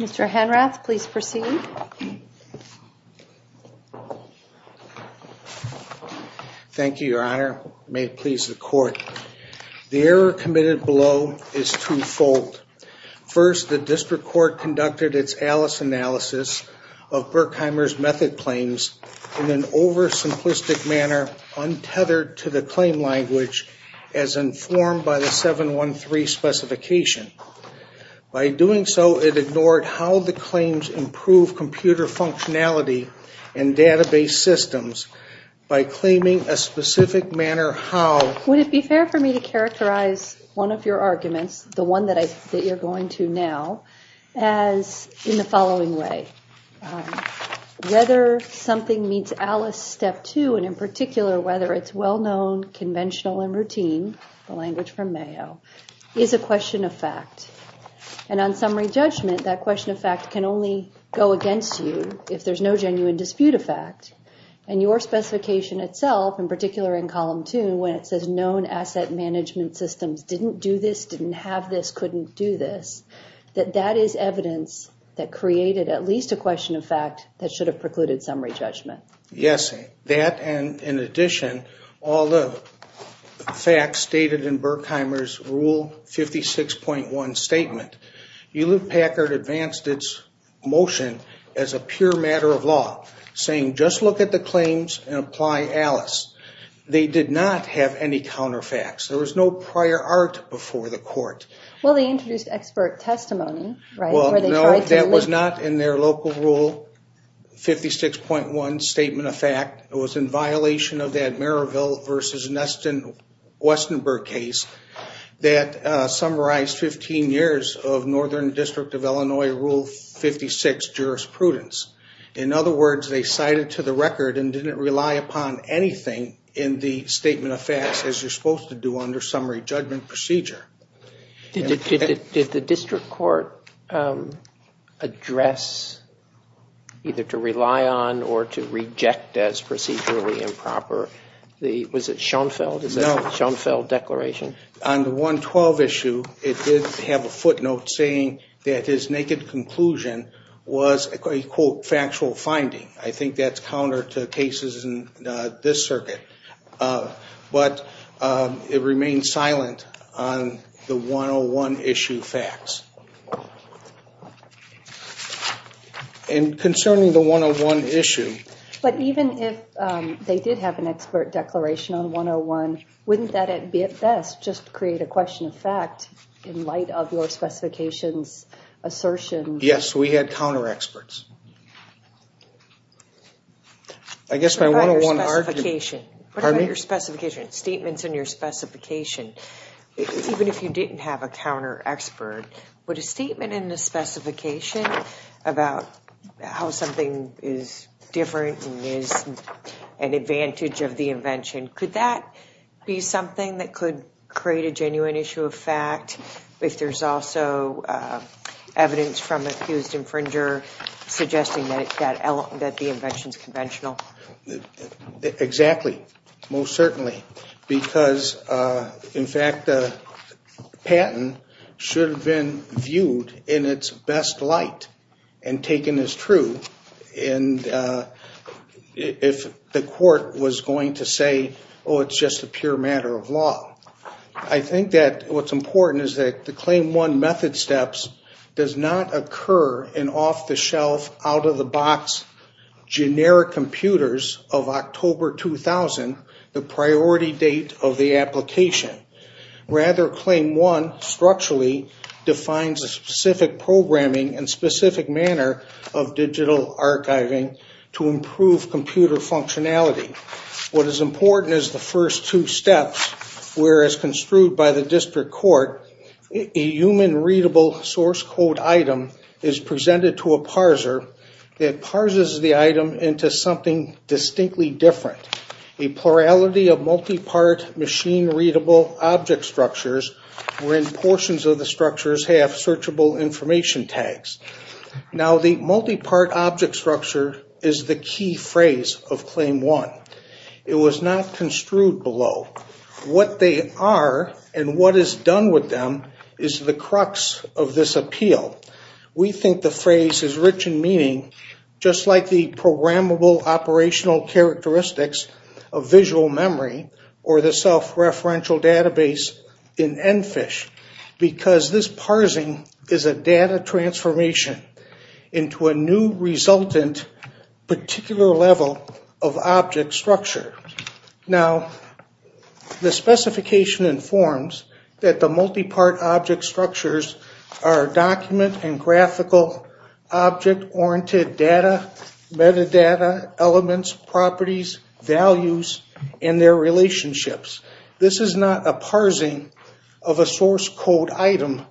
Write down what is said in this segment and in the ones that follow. Mr. Henrath, please proceed. Thank you, Your Honor. May it please the Court. The error committed below is two-fold. First, the District Court conducted its Alice analysis of Berkheimer's method claims in an oversimplistic manner, untethered to the claim language, as informed by the 713 specification. By doing so, it ignored how the claims improve computer functionality and database systems by claiming a specific manner how... Would it be fair for me to characterize one of your arguments, the one that you're going to now, as in the following way. Whether something meets Alice Step 2, and in particular whether it's well-known, conventional, and routine, the language from Mayo, is a question of fact. And on summary judgment, that question of fact can only go against you if there's no genuine dispute of fact. And your specification itself, in particular in column 2, when it says known asset management systems didn't do this, didn't have this, couldn't do this, that that is evidence that created at least a question of fact that should have precluded summary judgment. Yes. That and, in addition, all the facts stated in Berkheimer's Rule 56.1 statement. Elude Packard advanced its motion as a pure matter of law, saying just look at the claims and apply Alice. They did not have any counter facts. There was no prior art before the court. Well, they introduced expert testimony, right? Well, no, that was not in their local Rule 56.1 statement of fact. It was in violation of that Merrillville v. Westenberg case that summarized 15 years of Northern District of Illinois Rule 56 jurisprudence. In other words, they cited to the record and didn't rely upon anything in the statement of facts as you're supposed to do under summary judgment procedure. Did the district court address either to rely on or to reject as procedurally improper? Was it Schoenfeld? Is that a Schoenfeld declaration? On the 112 issue, it did have a footnote saying that his naked conclusion was a, quote, factual finding. I think that's counter to cases in this circuit. But it remained silent on the 101 issue facts. And concerning the 101 issue. But even if they did have an expert declaration on 101, wouldn't that at best just create a question of fact in light of your specifications assertion? Yes, we had counter experts. I guess my 101 argument. What about your specification? Pardon me? What about your specification, statements in your specification? Even if you didn't have a counter expert, would a statement in the specification about how something is different and is an advantage of the invention, could that be something that could create a genuine issue of fact? If there's also evidence from an accused infringer suggesting that the invention is conventional. Exactly. Most certainly. Because, in fact, the patent should have been viewed in its best light and taken as true. And if the court was going to say, oh, it's just a pure matter of law. I think that what's important is that the Claim 1 method steps does not occur in off-the-shelf, out-of-the-box generic computers of October 2000, the priority date of the application. Rather, Claim 1 structurally defines a specific programming and specific manner of digital archiving to improve computer functionality. What is important is the first two steps, whereas construed by the district court, a human-readable source code item is presented to a parser that parses the item into something distinctly different. A plurality of multi-part machine-readable object structures wherein portions of the structures have searchable information tags. Now, the multi-part object structure is the key phrase of Claim 1. It was not construed below. What they are and what is done with them is the crux of this appeal. We think the phrase is rich in meaning, just like the programmable operational characteristics of visual memory or the self-referential database in ENFISH, because this parsing is a data transformation into a new resultant particular level of object structure. Now, the specification informs that the multi-part object structures are document and graphical object-oriented data, metadata, elements, properties, values, and their relationships. This is not a parsing of a source code item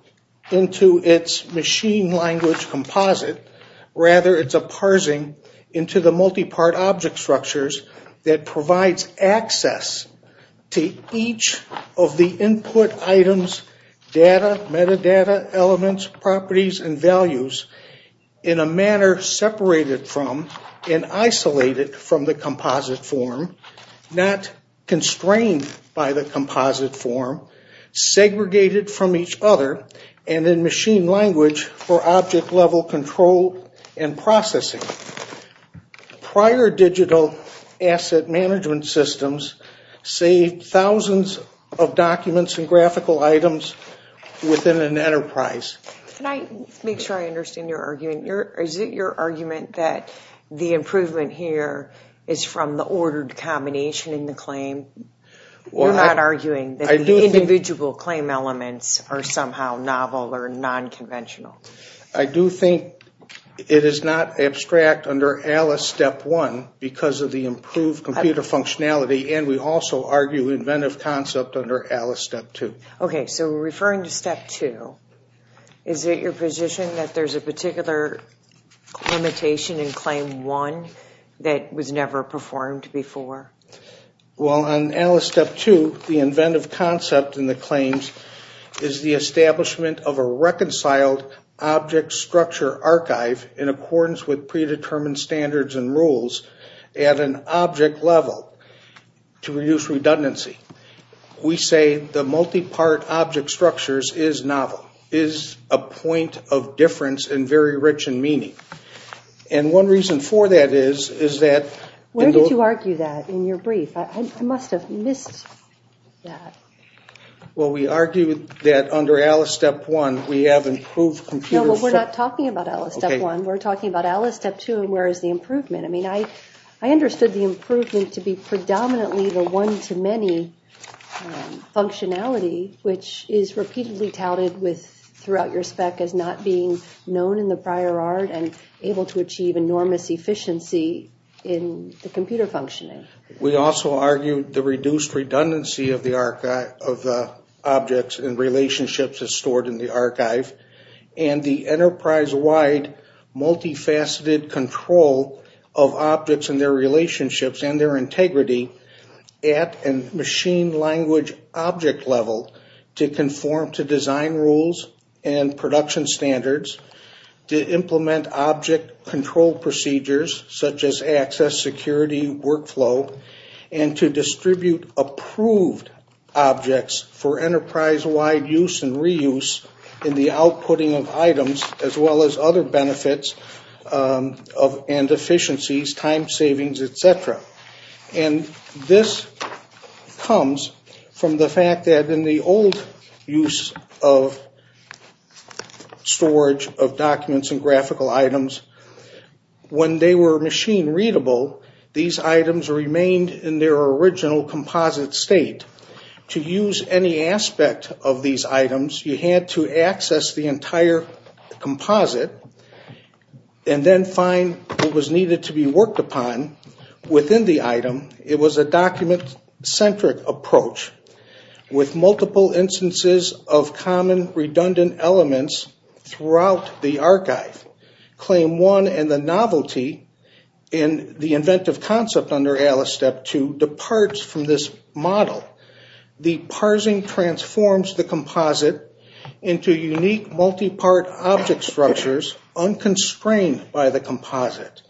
into its machine language composite. Rather, it's a parsing into the multi-part object structures that provides access to each of the input items, data, metadata, elements, properties, and values in a manner separated from and isolated from the composite form, not constrained by the composite form, segregated from each other, and in machine language for object-level control and processing. Prior digital asset management systems saved thousands of documents and graphical items within an enterprise. Can I make sure I understand your argument? Is it your argument that the improvement here is from the ordered combination in the claim? You're not arguing that the individual claim elements are somehow novel or non-conventional. I do think it is not abstract under ALICE Step 1 because of the improved computer functionality, and we also argue inventive concept under ALICE Step 2. Okay, so we're referring to Step 2. Is it your position that there's a particular limitation in Claim 1 that was never performed before? Well, on ALICE Step 2, the inventive concept in the claims is the establishment of a reconciled object structure archive in accordance with predetermined standards and rules at an object level to reduce redundancy. We say the multi-part object structures is novel, is a point of difference and very rich in meaning. And one reason for that is that- Where did you argue that in your brief? I must have missed that. Well, we argued that under ALICE Step 1, we have improved computer- No, we're not talking about ALICE Step 1. We're talking about ALICE Step 2 and where is the improvement. I mean, I understood the improvement to be predominantly the one-to-many functionality, which is repeatedly touted throughout your spec as not being known in the prior art and able to achieve enormous efficiency in the computer functioning. We also argued the reduced redundancy of the objects and relationships stored in the archive and the enterprise-wide multifaceted control of objects and their relationships and their integrity at a machine language object level to conform to design rules and production standards, to implement object control procedures such as access security workflow, and to distribute approved objects for enterprise-wide use and reuse in the outputting of items as well as other benefits and efficiencies, time savings, etc. And this comes from the fact that in the old use of storage of documents and graphical items, when they were machine-readable, these items remained in their original composite state. To use any aspect of these items, you had to access the entire composite and then find what was needed to be worked upon within the item. It was a document-centric approach with multiple instances of common redundant elements throughout the archive. Claim 1 and the novelty in the inventive concept under ALICE Step 2 departs from this model. The parsing transforms the composite into unique multi-part object structures unconstrained by the composite.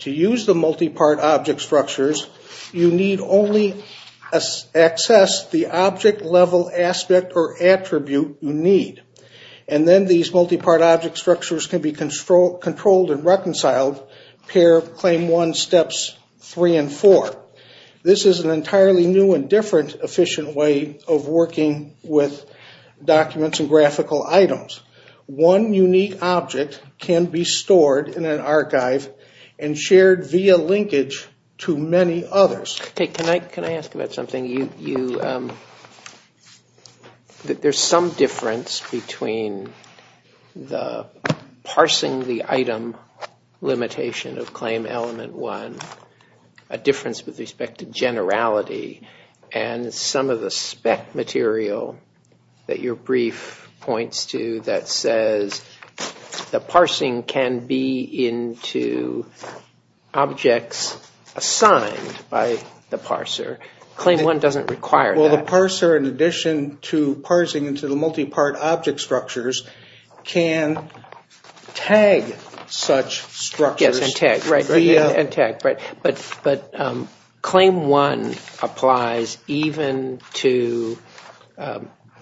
To use the multi-part object structures, you need only access the object level aspect or attribute you need. And then these multi-part object structures can be controlled and reconciled per Claim 1 Steps 3 and 4. This is an entirely new and different efficient way of working with documents and graphical items. One unique object can be stored in an archive and shared via linkage to many others. Can I ask about something? There's some difference between the parsing the item limitation of Claim Element 1, a difference with respect to generality, and some of the spec material that your brief points to that says the parsing can be into objects assigned by the parser. Claim 1 doesn't require that. Well, the parser, in addition to parsing into the multi-part object structures, can tag such structures. Yes, and tag, right. But Claim 1 applies even to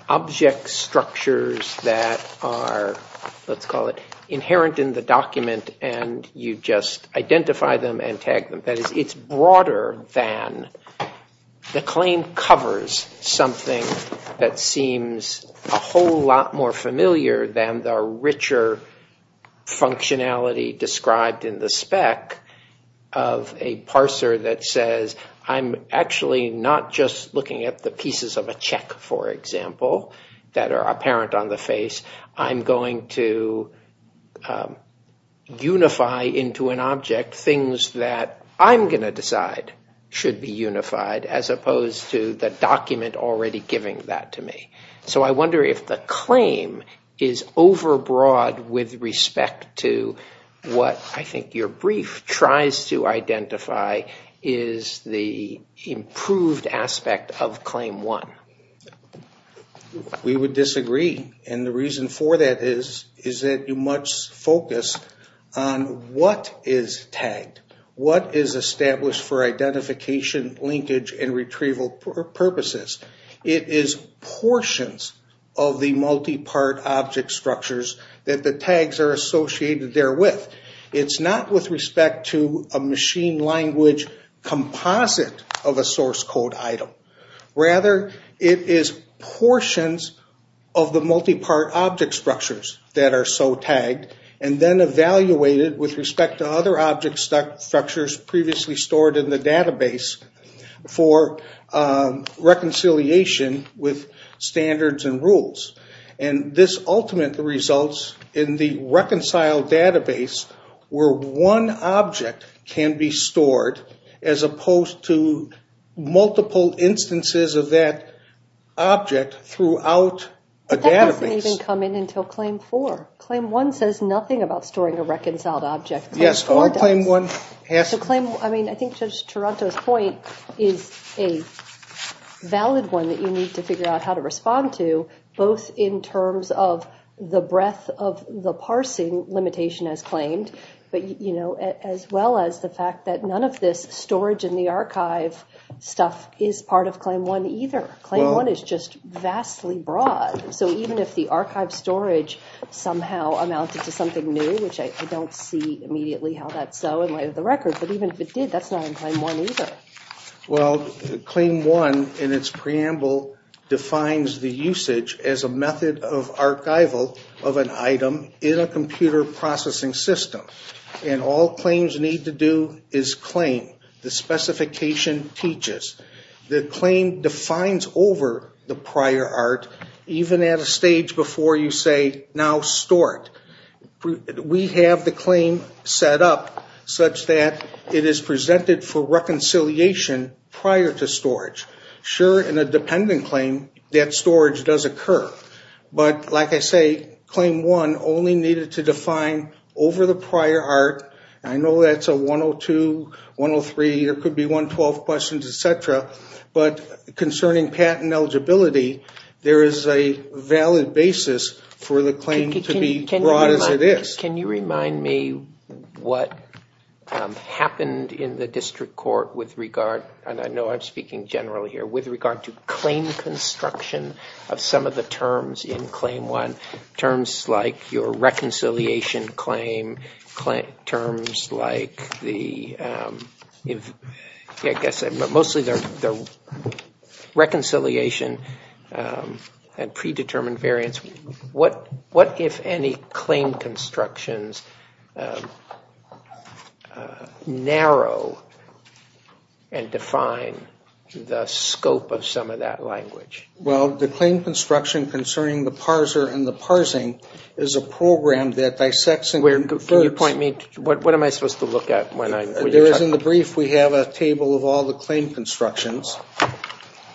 object structures that are, let's call it, inherent in the document, and you just identify them and tag them. That is, it's broader than the claim covers something that seems a whole lot more familiar than the richer functionality described in the spec of a parser that says, I'm actually not just looking at the pieces of a check, for example, that are apparent on the face. I'm going to unify into an object things that I'm going to decide should be unified, as opposed to the document already giving that to me. So I wonder if the claim is overbroad with respect to what I think your brief tries to identify is the improved aspect of Claim 1. We would disagree, and the reason for that is that you must focus on what is tagged, what is established for identification, linkage, and retrieval purposes. It is portions of the multi-part object structures that the tags are associated there with. It's not with respect to a machine language composite of a source code item. Rather, it is portions of the multi-part object structures that are so tagged, and then evaluated with respect to other object structures previously stored in the database for reconciliation with standards and rules. And this ultimately results in the reconciled database where one object can be stored as opposed to multiple instances of that object throughout a database. But that doesn't even come in until Claim 4. Claim 1 says nothing about storing a reconciled object. Yes, only Claim 1 has to. I think Judge Taranto's point is a valid one that you need to figure out how to respond to, both in terms of the breadth of the parsing limitation as claimed, as well as the fact that none of this storage in the archive stuff is part of Claim 1 either. Claim 1 is just vastly broad. So even if the archive storage somehow amounted to something new, which I don't see immediately how that's so in light of the record, but even if it did, that's not in Claim 1 either. Well, Claim 1 in its preamble defines the usage as a method of archival of an item in a computer processing system. And all claims need to do is claim. The specification teaches. The claim defines over the prior art, even at a stage before you say, now store it. We have the claim set up such that it is presented for reconciliation prior to storage. Sure, in a dependent claim, that storage does occur. But like I say, Claim 1 only needed to define over the prior art. I know that's a 102, 103, there could be 112 questions, et cetera. But concerning patent eligibility, there is a valid basis for the claim to be broad as it is. Can you remind me what happened in the district court with regard, and I know I'm speaking generally here, with regard to claim construction of some of the terms in Claim 1, terms like your reconciliation claim, terms like the, I guess, mostly the reconciliation and predetermined variance. What, if any, claim constructions narrow and define the scope of some of that language? Well, the claim construction concerning the parser and the parsing is a program that dissects and converts. Can you point me, what am I supposed to look at? There is, in the brief, we have a table of all the claim constructions.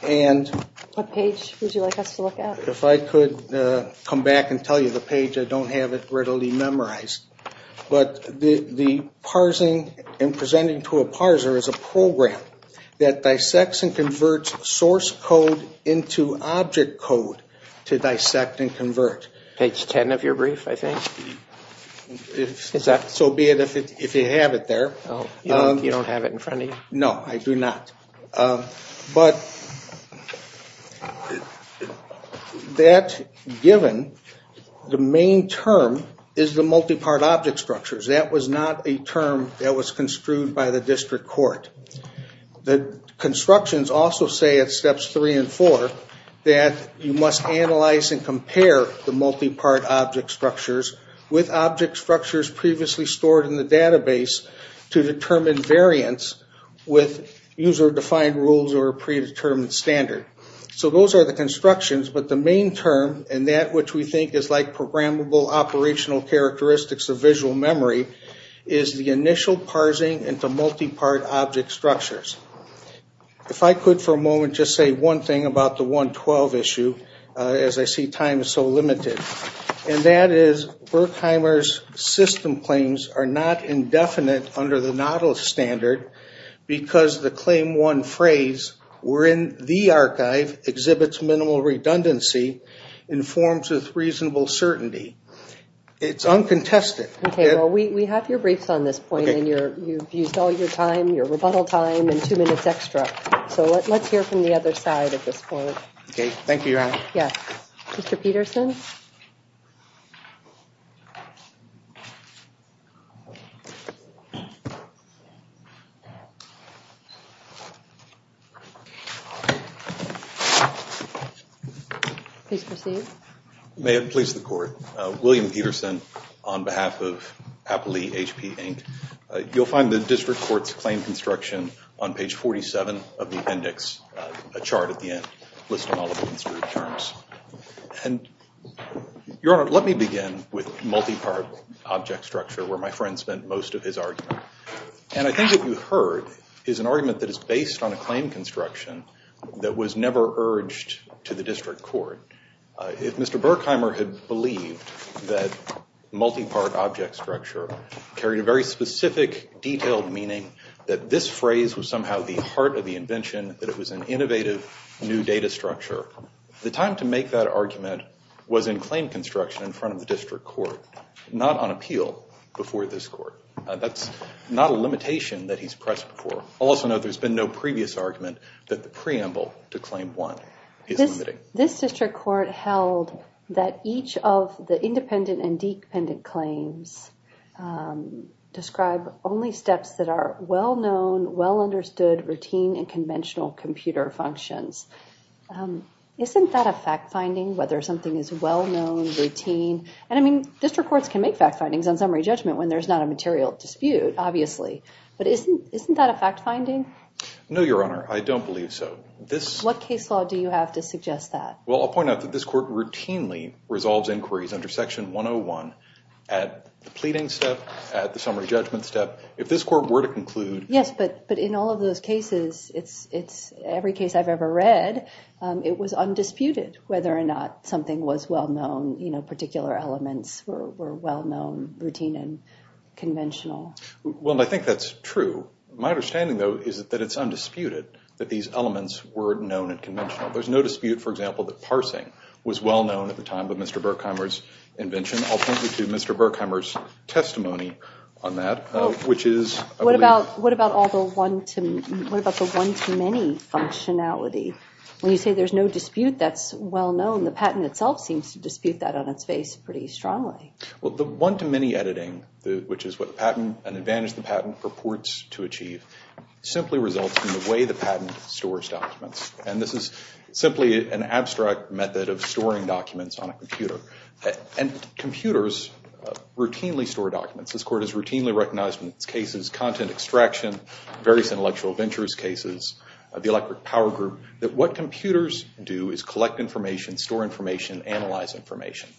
What page would you like us to look at? If I could come back and tell you the page, I don't have it readily memorized. But the parsing and presenting to a parser is a program that dissects and converts source code into object code to dissect and convert. Page 10 of your brief, I think. So be it if you have it there. You don't have it in front of you? No, I do not. But that given, the main term is the multi-part object structures. That was not a term that was construed by the district court. The constructions also say at steps 3 and 4 that you must analyze and compare the multi-part object structures with object structures previously stored in the database to determine variance with user-defined rules or predetermined standard. So those are the constructions. But the main term, and that which we think is like programmable operational characteristics of visual memory, is the initial parsing into multi-part object structures. If I could for a moment just say one thing about the 1.12 issue, as I see time is so limited. And that is, Berkheimer's system claims are not indefinite under the Nottle standard because the claim 1 phrase, we're in the archive, exhibits minimal redundancy and forms with reasonable certainty. It's uncontested. Okay, well we have your briefs on this point and you've used all your time, your rebuttal time, and two minutes extra. So let's hear from the other side at this point. Okay, thank you, Your Honor. Yes, Mr. Peterson? Please proceed. May it please the Court. William Peterson on behalf of Happily HP, Inc. You'll find the district court's claim construction on page 47 of the index, a chart at the end, listing all of the construed terms. And, Your Honor, let me begin with multi-part object structure, where my friend spent most of his argument. And I think what you heard is an argument that is based on a claim construction that was never urged to the district court. If Mr. Burkheimer had believed that multi-part object structure carried a very specific, detailed meaning, that this phrase was somehow the heart of the invention, that it was an innovative new data structure, the time to make that argument was in claim construction in front of the district court, not on appeal before this court. That's not a limitation that he's pressed for. Also note there's been no previous argument that the preamble to claim 1 is limiting. This district court held that each of the independent and dependent claims describe only steps that are well-known, well-understood, routine, and conventional computer functions. Isn't that a fact-finding, whether something is well-known, routine? And, I mean, district courts can make fact-findings on summary judgment when there's not a material dispute, obviously. But isn't that a fact-finding? No, Your Honor. I don't believe so. What case law do you have to suggest that? Well, I'll point out that this court routinely resolves inquiries under Section 101 at the pleading step, at the summary judgment step. If this court were to conclude— Yes, but in all of those cases, every case I've ever read, it was undisputed whether or not something was well-known, particular elements were well-known, routine, and conventional. Well, I think that's true. My understanding, though, is that it's undisputed that these elements were known and conventional. There's no dispute, for example, that parsing was well-known at the time of Mr. Berkheimer's invention. I'll point you to Mr. Berkheimer's testimony on that, which is— What about all the one-to-many functionality? When you say there's no dispute that's well-known, the patent itself seems to dispute that on its face pretty strongly. Well, the one-to-many editing, which is what an advantage the patent purports to achieve, simply results in the way the patent stores documents. And this is simply an abstract method of storing documents on a computer. And computers routinely store documents. This court has routinely recognized in its cases content extraction, various intellectual ventures cases, the electric power group, that what computers do is collect information, store information, analyze information.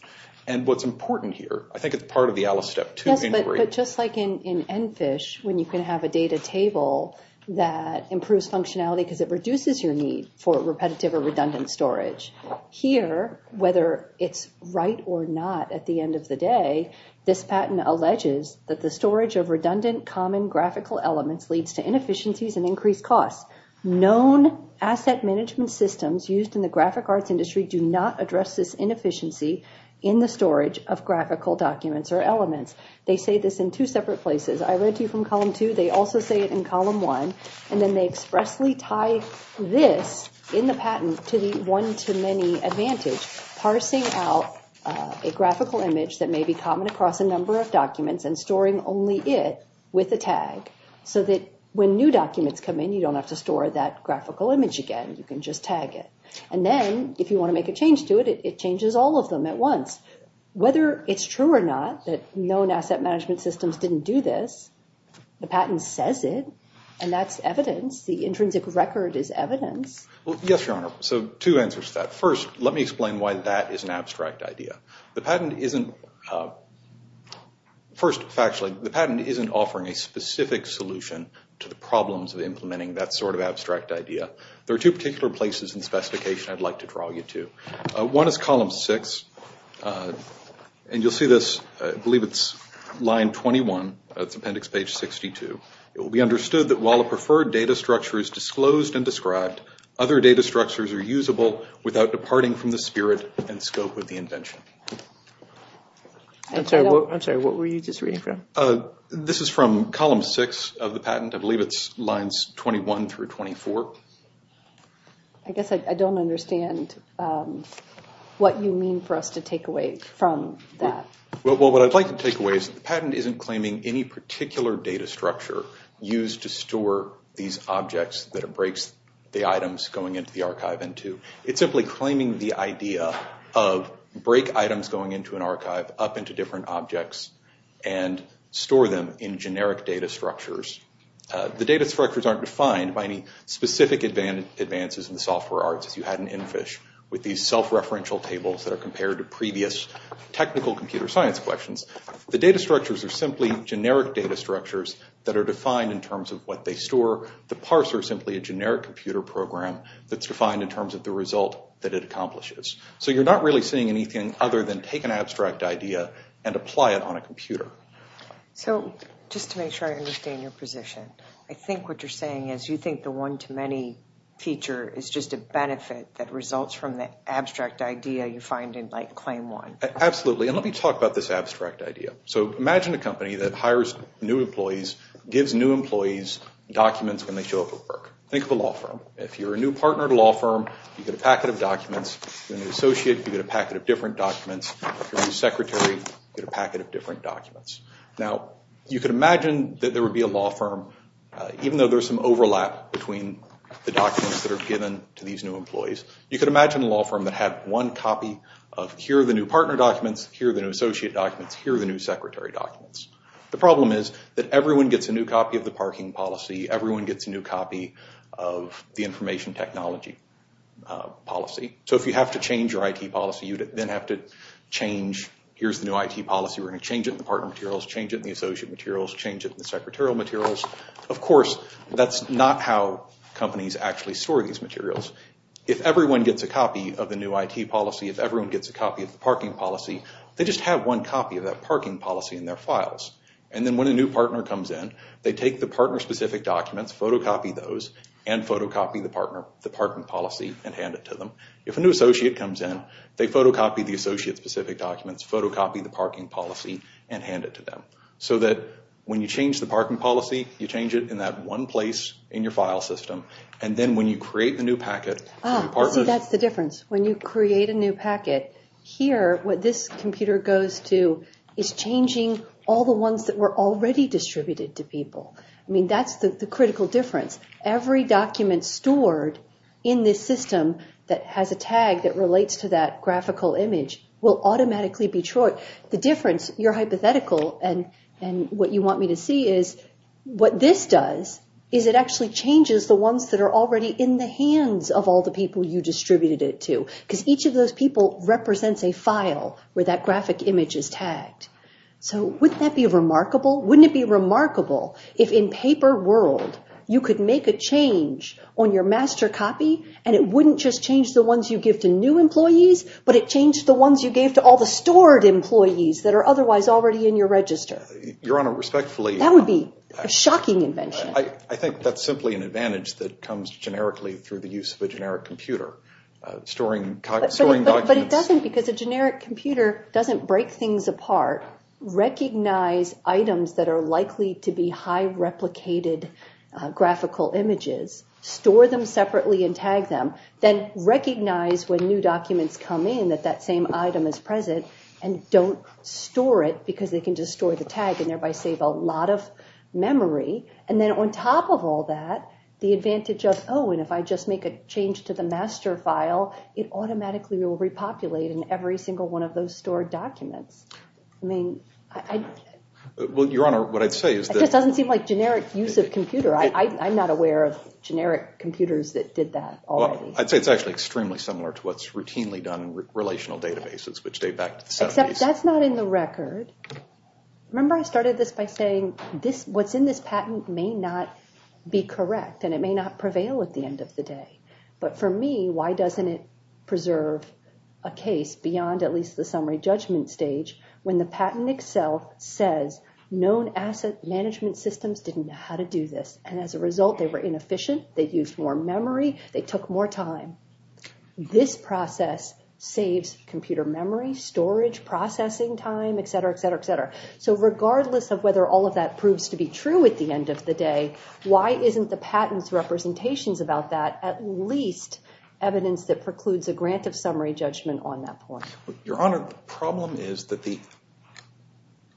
And what's important here—I think it's part of the Alice Step 2 inquiry— Yes, but just like in ENFISH, when you can have a data table that improves functionality because it reduces your need for repetitive or redundant storage, here, whether it's right or not at the end of the day, this patent alleges that the storage of redundant common graphical elements leads to inefficiencies and increased costs. Known asset management systems used in the graphic arts industry do not address this inefficiency in the storage of graphical documents or elements. They say this in two separate places. I read to you from Column 2. They also say it in Column 1. And then they expressly tie this in the patent to the one-to-many advantage, parsing out a graphical image that may be common across a number of documents and storing only it with a tag, so that when new documents come in, you don't have to store that graphical image again. You can just tag it. And then, if you want to make a change to it, it changes all of them at once. Whether it's true or not that known asset management systems didn't do this, the patent says it, and that's evidence. The intrinsic record is evidence. Well, yes, Your Honor, so two answers to that. First, let me explain why that is an abstract idea. The patent isn't—first, factually, the patent isn't offering a specific solution to the problems of implementing that sort of abstract idea. There are two particular places in the specification I'd like to draw you to. One is Column 6, and you'll see this—I believe it's line 21. It's Appendix Page 62. It will be understood that while a preferred data structure is disclosed and described, other data structures are usable without departing from the spirit and scope of the invention. I'm sorry, what were you just reading from? This is from Column 6 of the patent. I believe it's lines 21 through 24. I guess I don't understand what you mean for us to take away from that. Well, what I'd like to take away is the patent isn't claiming any particular data structure used to store these objects that it breaks the items going into the archive into. It's simply claiming the idea of break items going into an archive up into different objects and store them in generic data structures. The data structures aren't defined by any specific advances in the software arts, as you had in ENFISH with these self-referential tables that are compared to previous technical computer science questions. The data structures are simply generic data structures that are defined in terms of what they store. The parts are simply a generic computer program that's defined in terms of the result that it accomplishes. So you're not really seeing anything other than take an abstract idea and apply it on a computer. So, just to make sure I understand your position, I think what you're saying is you think the one-to-many feature is just a benefit that results from the abstract idea you find in, like, Claim 1. Absolutely, and let me talk about this abstract idea. So imagine a company that hires new employees, gives new employees documents when they show up at work. Think of a law firm. If you're a new partner to a law firm, you get a packet of documents. If you're a new associate, you get a packet of different documents. If you're a new secretary, you get a packet of different documents. Now, you could imagine that there would be a law firm, even though there's some overlap between the documents that are given to these new employees, you could imagine a law firm that had one copy of, here are the new partner documents, here are the new associate documents, here are the new secretary documents. The problem is that everyone gets a new copy of the parking policy, everyone gets a new copy of the information technology policy. So if you have to change your IT policy, you then have to change, here's the new IT policy, we're going to change it in the partner materials, change it in the associate materials, change it in the secretarial materials. Of course, that's not how companies actually store these materials. If everyone gets a copy of the new IT policy, if everyone gets a copy of the parking policy, they just have one copy of that parking policy in their files. And then when a new partner comes in, they take the partner-specific documents, photocopy those, and photocopy the partner, the parking policy, and hand it to them. If a new associate comes in, they photocopy the associate-specific documents, photocopy the parking policy, and hand it to them. So that when you change the parking policy, you change it in that one place in your file system, and then when you create the new packet... Ah, see, that's the difference. When you create a new packet, here, what this computer goes to is changing all the ones that were already distributed to people. I mean, that's the critical difference. Every document stored in this system that has a tag that relates to that graphical image will automatically be short. The difference, you're hypothetical, and what you want me to see is what this does is it actually changes the ones that are already in the hands of all the people you distributed it to. Because each of those people represents a file where that graphic image is tagged. So wouldn't that be remarkable? Wouldn't it be remarkable if in paper world you could make a change on your master copy, and it wouldn't just change the ones you give to new employees, but it changed the ones you gave to all the stored employees that are otherwise already in your register? Your Honor, respectfully... That would be a shocking invention. I think that's simply an advantage that comes generically through the use of a generic computer. But it doesn't, because a generic computer doesn't break things apart. Recognize items that are likely to be high replicated graphical images, store them separately and tag them, then recognize when new documents come in that that same item is present, and don't store it because they can just store the tag and thereby save a lot of memory. And then on top of all that, the advantage of, oh, and if I just make a change to the master file, it automatically will repopulate in every single one of those stored documents. Well, Your Honor, what I'd say is that... It just doesn't seem like generic use of computer. I'm not aware of generic computers that did that already. Well, I'd say it's actually extremely similar to what's routinely done in relational databases, which date back to the 70s. Except that's not in the record. Remember I started this by saying what's in this patent may not be correct, and it may not prevail at the end of the day. But for me, why doesn't it preserve a case beyond at least the summary judgment stage when the patent itself says known asset management systems didn't know how to do this. And as a result, they were inefficient. They used more memory. They took more time. This process saves computer memory, storage, processing time, et cetera, et cetera, et cetera. So regardless of whether all of that proves to be true at the end of the day, why isn't the patent's representations about that at least evidence that precludes a grant of summary judgment on that point? Your Honor, the problem is that the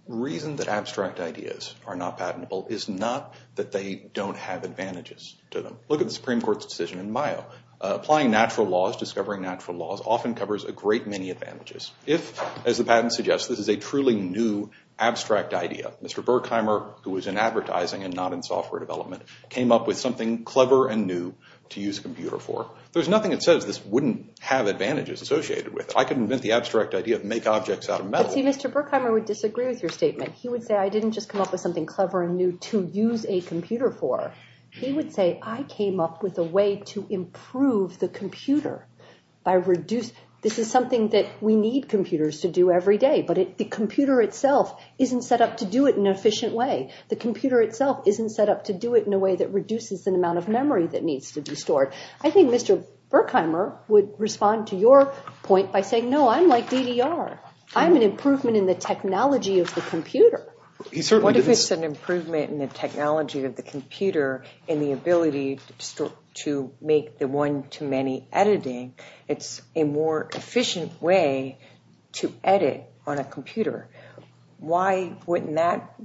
reason that abstract ideas are not patentable is not that they don't have advantages to them. Look at the Supreme Court's decision in Mayo. Applying natural laws, discovering natural laws, often covers a great many advantages. If, as the patent suggests, this is a truly new abstract idea, Mr. Berkheimer, who was in advertising and not in software development, came up with something clever and new to use a computer for, there's nothing that says this wouldn't have advantages associated with it. I can invent the abstract idea of make objects out of metal. But see, Mr. Berkheimer would disagree with your statement. He would say I didn't just come up with something clever and new to use a computer for. He would say I came up with a way to improve the computer by reducing. This is something that we need computers to do every day, but the computer itself isn't set up to do it in an efficient way. The computer itself isn't set up to do it in a way that reduces the amount of memory that needs to be stored. I think Mr. Berkheimer would respond to your point by saying, no, I'm like DDR. I'm an improvement in the technology of the computer. What if it's an improvement in the technology of the computer and the ability to make the one-to-many editing? It's a more efficient way to edit on a computer. Why wouldn't that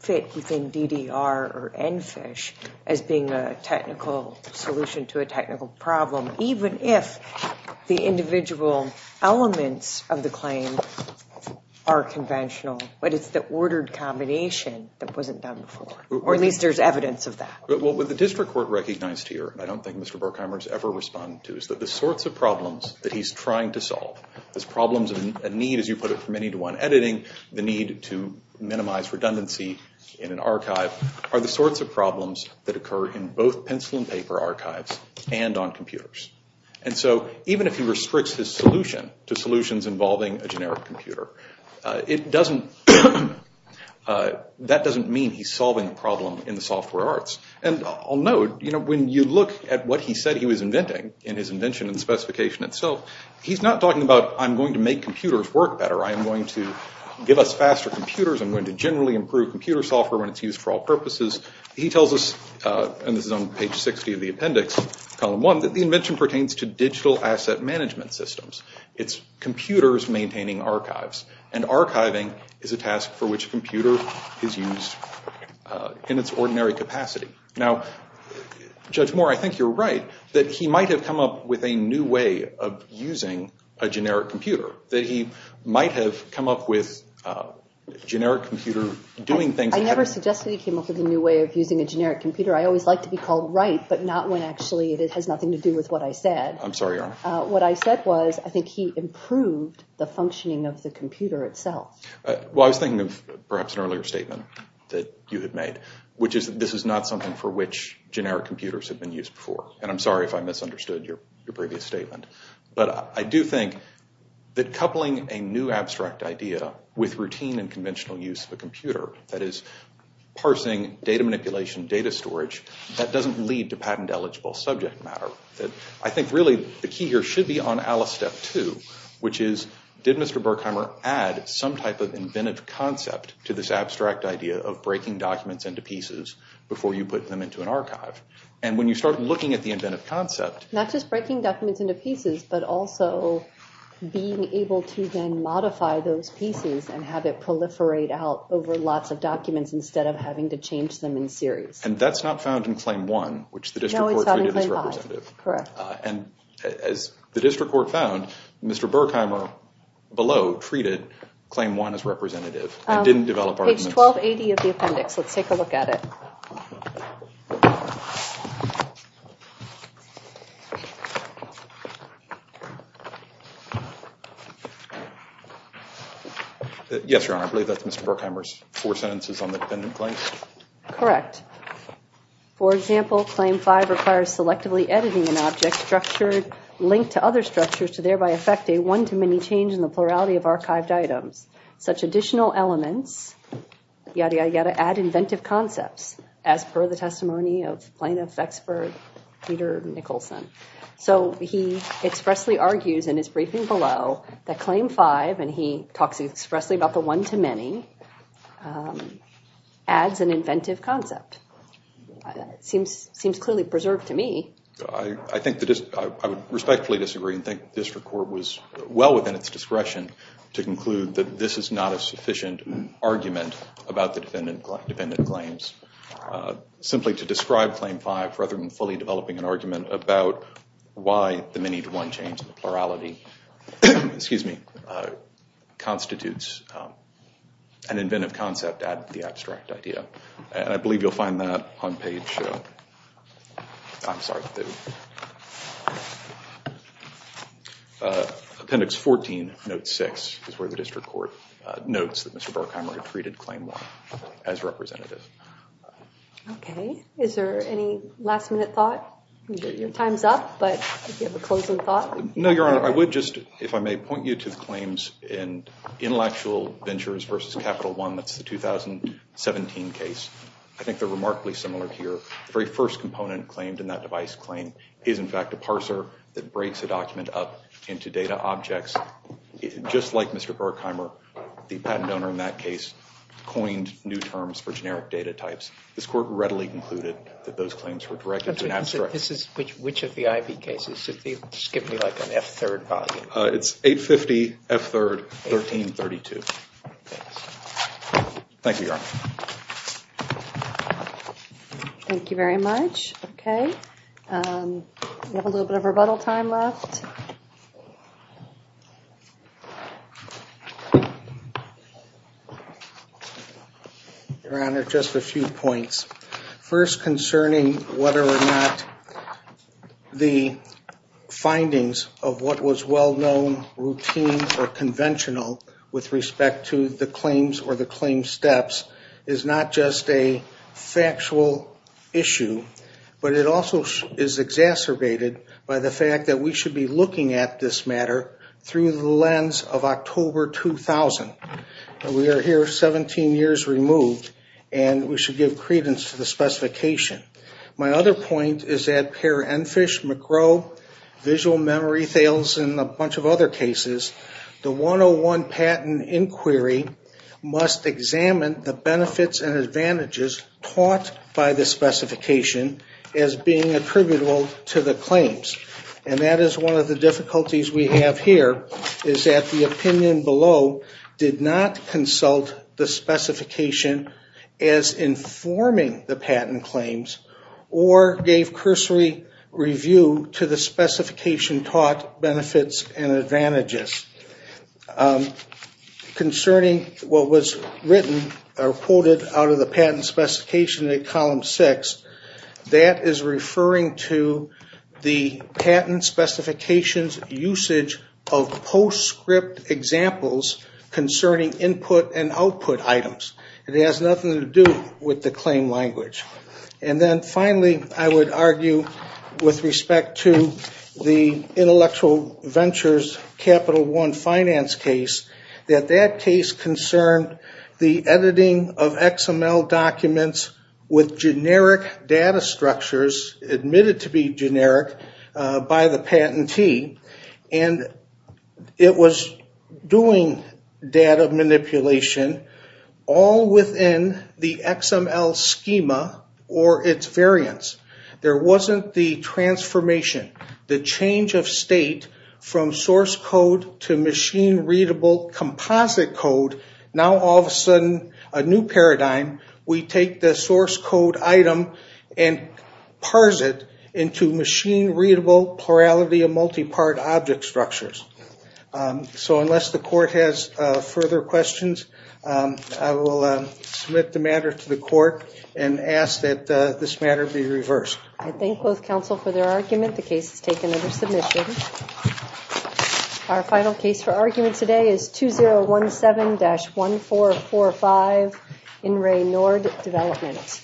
fit within DDR or EnFish as being a technical solution to a technical problem, even if the individual elements of the claim are conventional, but it's the ordered combination that wasn't done before? Or at least there's evidence of that. What the district court recognized here, and I don't think Mr. Berkheimer has ever responded to, is that the sorts of problems that he's trying to solve, the problems of a need, as you put it, for many-to-one editing, the need to minimize redundancy in an archive, are the sorts of problems that occur in both pencil and paper archives and on computers. And so even if he restricts his solution to solutions involving a generic computer, that doesn't mean he's solving the problem in the software arts. And I'll note, when you look at what he said he was inventing, in his invention and specification itself, he's not talking about, I'm going to make computers work better, I'm going to give us faster computers, I'm going to generally improve computer software when it's used for all purposes. He tells us, and this is on page 60 of the appendix, column 1, that the invention pertains to digital asset management systems. It's computers maintaining archives. And archiving is a task for which a computer is used in its ordinary capacity. Now, Judge Moore, I think you're right, that he might have come up with a new way of using a generic computer. That he might have come up with a generic computer doing things that have... I never suggested he came up with a new way of using a generic computer. I always like to be called right, but not when actually it has nothing to do with what I said. I'm sorry, Your Honor. What I said was, I think he improved the functioning of the computer itself. Well, I was thinking of perhaps an earlier statement that you had made, which is that this is not something for which generic computers have been used before. And I'm sorry if I misunderstood your previous statement. But I do think that coupling a new abstract idea with routine and conventional use of a computer, that is, parsing, data manipulation, data storage, that doesn't lead to patent-eligible subject matter. I think really the key here should be on ALICE Step 2, which is, did Mr. Berkheimer add some type of inventive concept to this abstract idea of breaking documents into pieces before you put them into an archive? And when you start looking at the inventive concept... Not just breaking documents into pieces, but also being able to then modify those pieces and have it proliferate out over lots of documents instead of having to change them in series. And that's not found in Claim 1, which the district court treated as representative. Correct. And as the district court found, Mr. Berkheimer below treated Claim 1 as representative and didn't develop arguments... Page 1280 of the appendix. Let's take a look at it. Yes, Your Honor, I believe that's Mr. Berkheimer's four sentences on the dependent claim. Correct. For example, Claim 5 requires selectively editing an object linked to other structures to thereby affect a one-to-many change in the plurality of archived items. Such additional elements, yadda yadda yadda, add inventive concepts, as per the testimony of plaintiff expert Peter Nicholson. So he expressly argues in his briefing below that Claim 5, when he talks expressly about the one-to-many, adds an inventive concept. It seems clearly preserved to me. I would respectfully disagree and think the district court was well within its discretion to conclude that this is not a sufficient argument about the dependent claims. Simply to describe Claim 5 rather than fully developing an argument about why the many-to-one change in the plurality constitutes an inventive concept, add the abstract idea. I believe you'll find that on page, I'm sorry, appendix 14, note 6, is where the district court notes that Mr. Berkheimer had treated Claim 1 as representative. Okay. Is there any last-minute thought? Your time's up, but do you have a closing thought? No, Your Honor. I would just, if I may, point you to the claims in Intellectual Ventures v. Capital One, that's the 2017 case. I think they're remarkably similar here. The very first component claimed in that device claim is, in fact, a parser that breaks a document up into data objects. Just like Mr. Berkheimer, the patent owner in that case coined new terms for generic data types. This court readily concluded that those claims were directed to an abstract. Which of the IP cases? Just give me like an F-3rd volume. It's 850 F-3rd, 1332. Thank you, Your Honor. Thank you very much. Okay. We have a little bit of rebuttal time left. Your Honor, just a few points. First, concerning whether or not the findings of what was well-known, routine, or conventional with respect to the claims or the claim steps is not just a factual issue, but it also is exacerbated by the fact that we should be looking at this matter through the lens of October 2000. We are here 17 years removed, and we should give credence to the specification. My other point is that per Enfish, McGraw, visual memory fails, and a bunch of other cases, the 101 patent inquiry must examine the benefits and advantages taught by the specification as being attributable to the claims. And that is one of the difficulties we have here, is that the opinion below did not consult the specification as informing the patent claims or gave cursory review to the specification taught benefits and advantages. Concerning what was written or quoted out of the patent specification in column 6, that is referring to the patent specification's usage of postscript examples concerning input and output items. It has nothing to do with the claim language. And then finally, I would argue with respect to the Intellectual Ventures Capital One Finance case, that that case concerned the editing of XML documents with generic data structures, admitted to be generic by the patentee, and it was doing data manipulation all within the XML schema or its variants. There wasn't the transformation, the change of state from source code to machine-readable composite code. Now, all of a sudden, a new paradigm. We take the source code item and parse it into machine-readable plurality of multi-part object structures. So unless the court has further questions, I will submit the matter to the court and ask that this matter be reversed. I thank both counsel for their argument. The case is taken under submission. Our final case for argument today is 2017-1445, In Re NORD Development.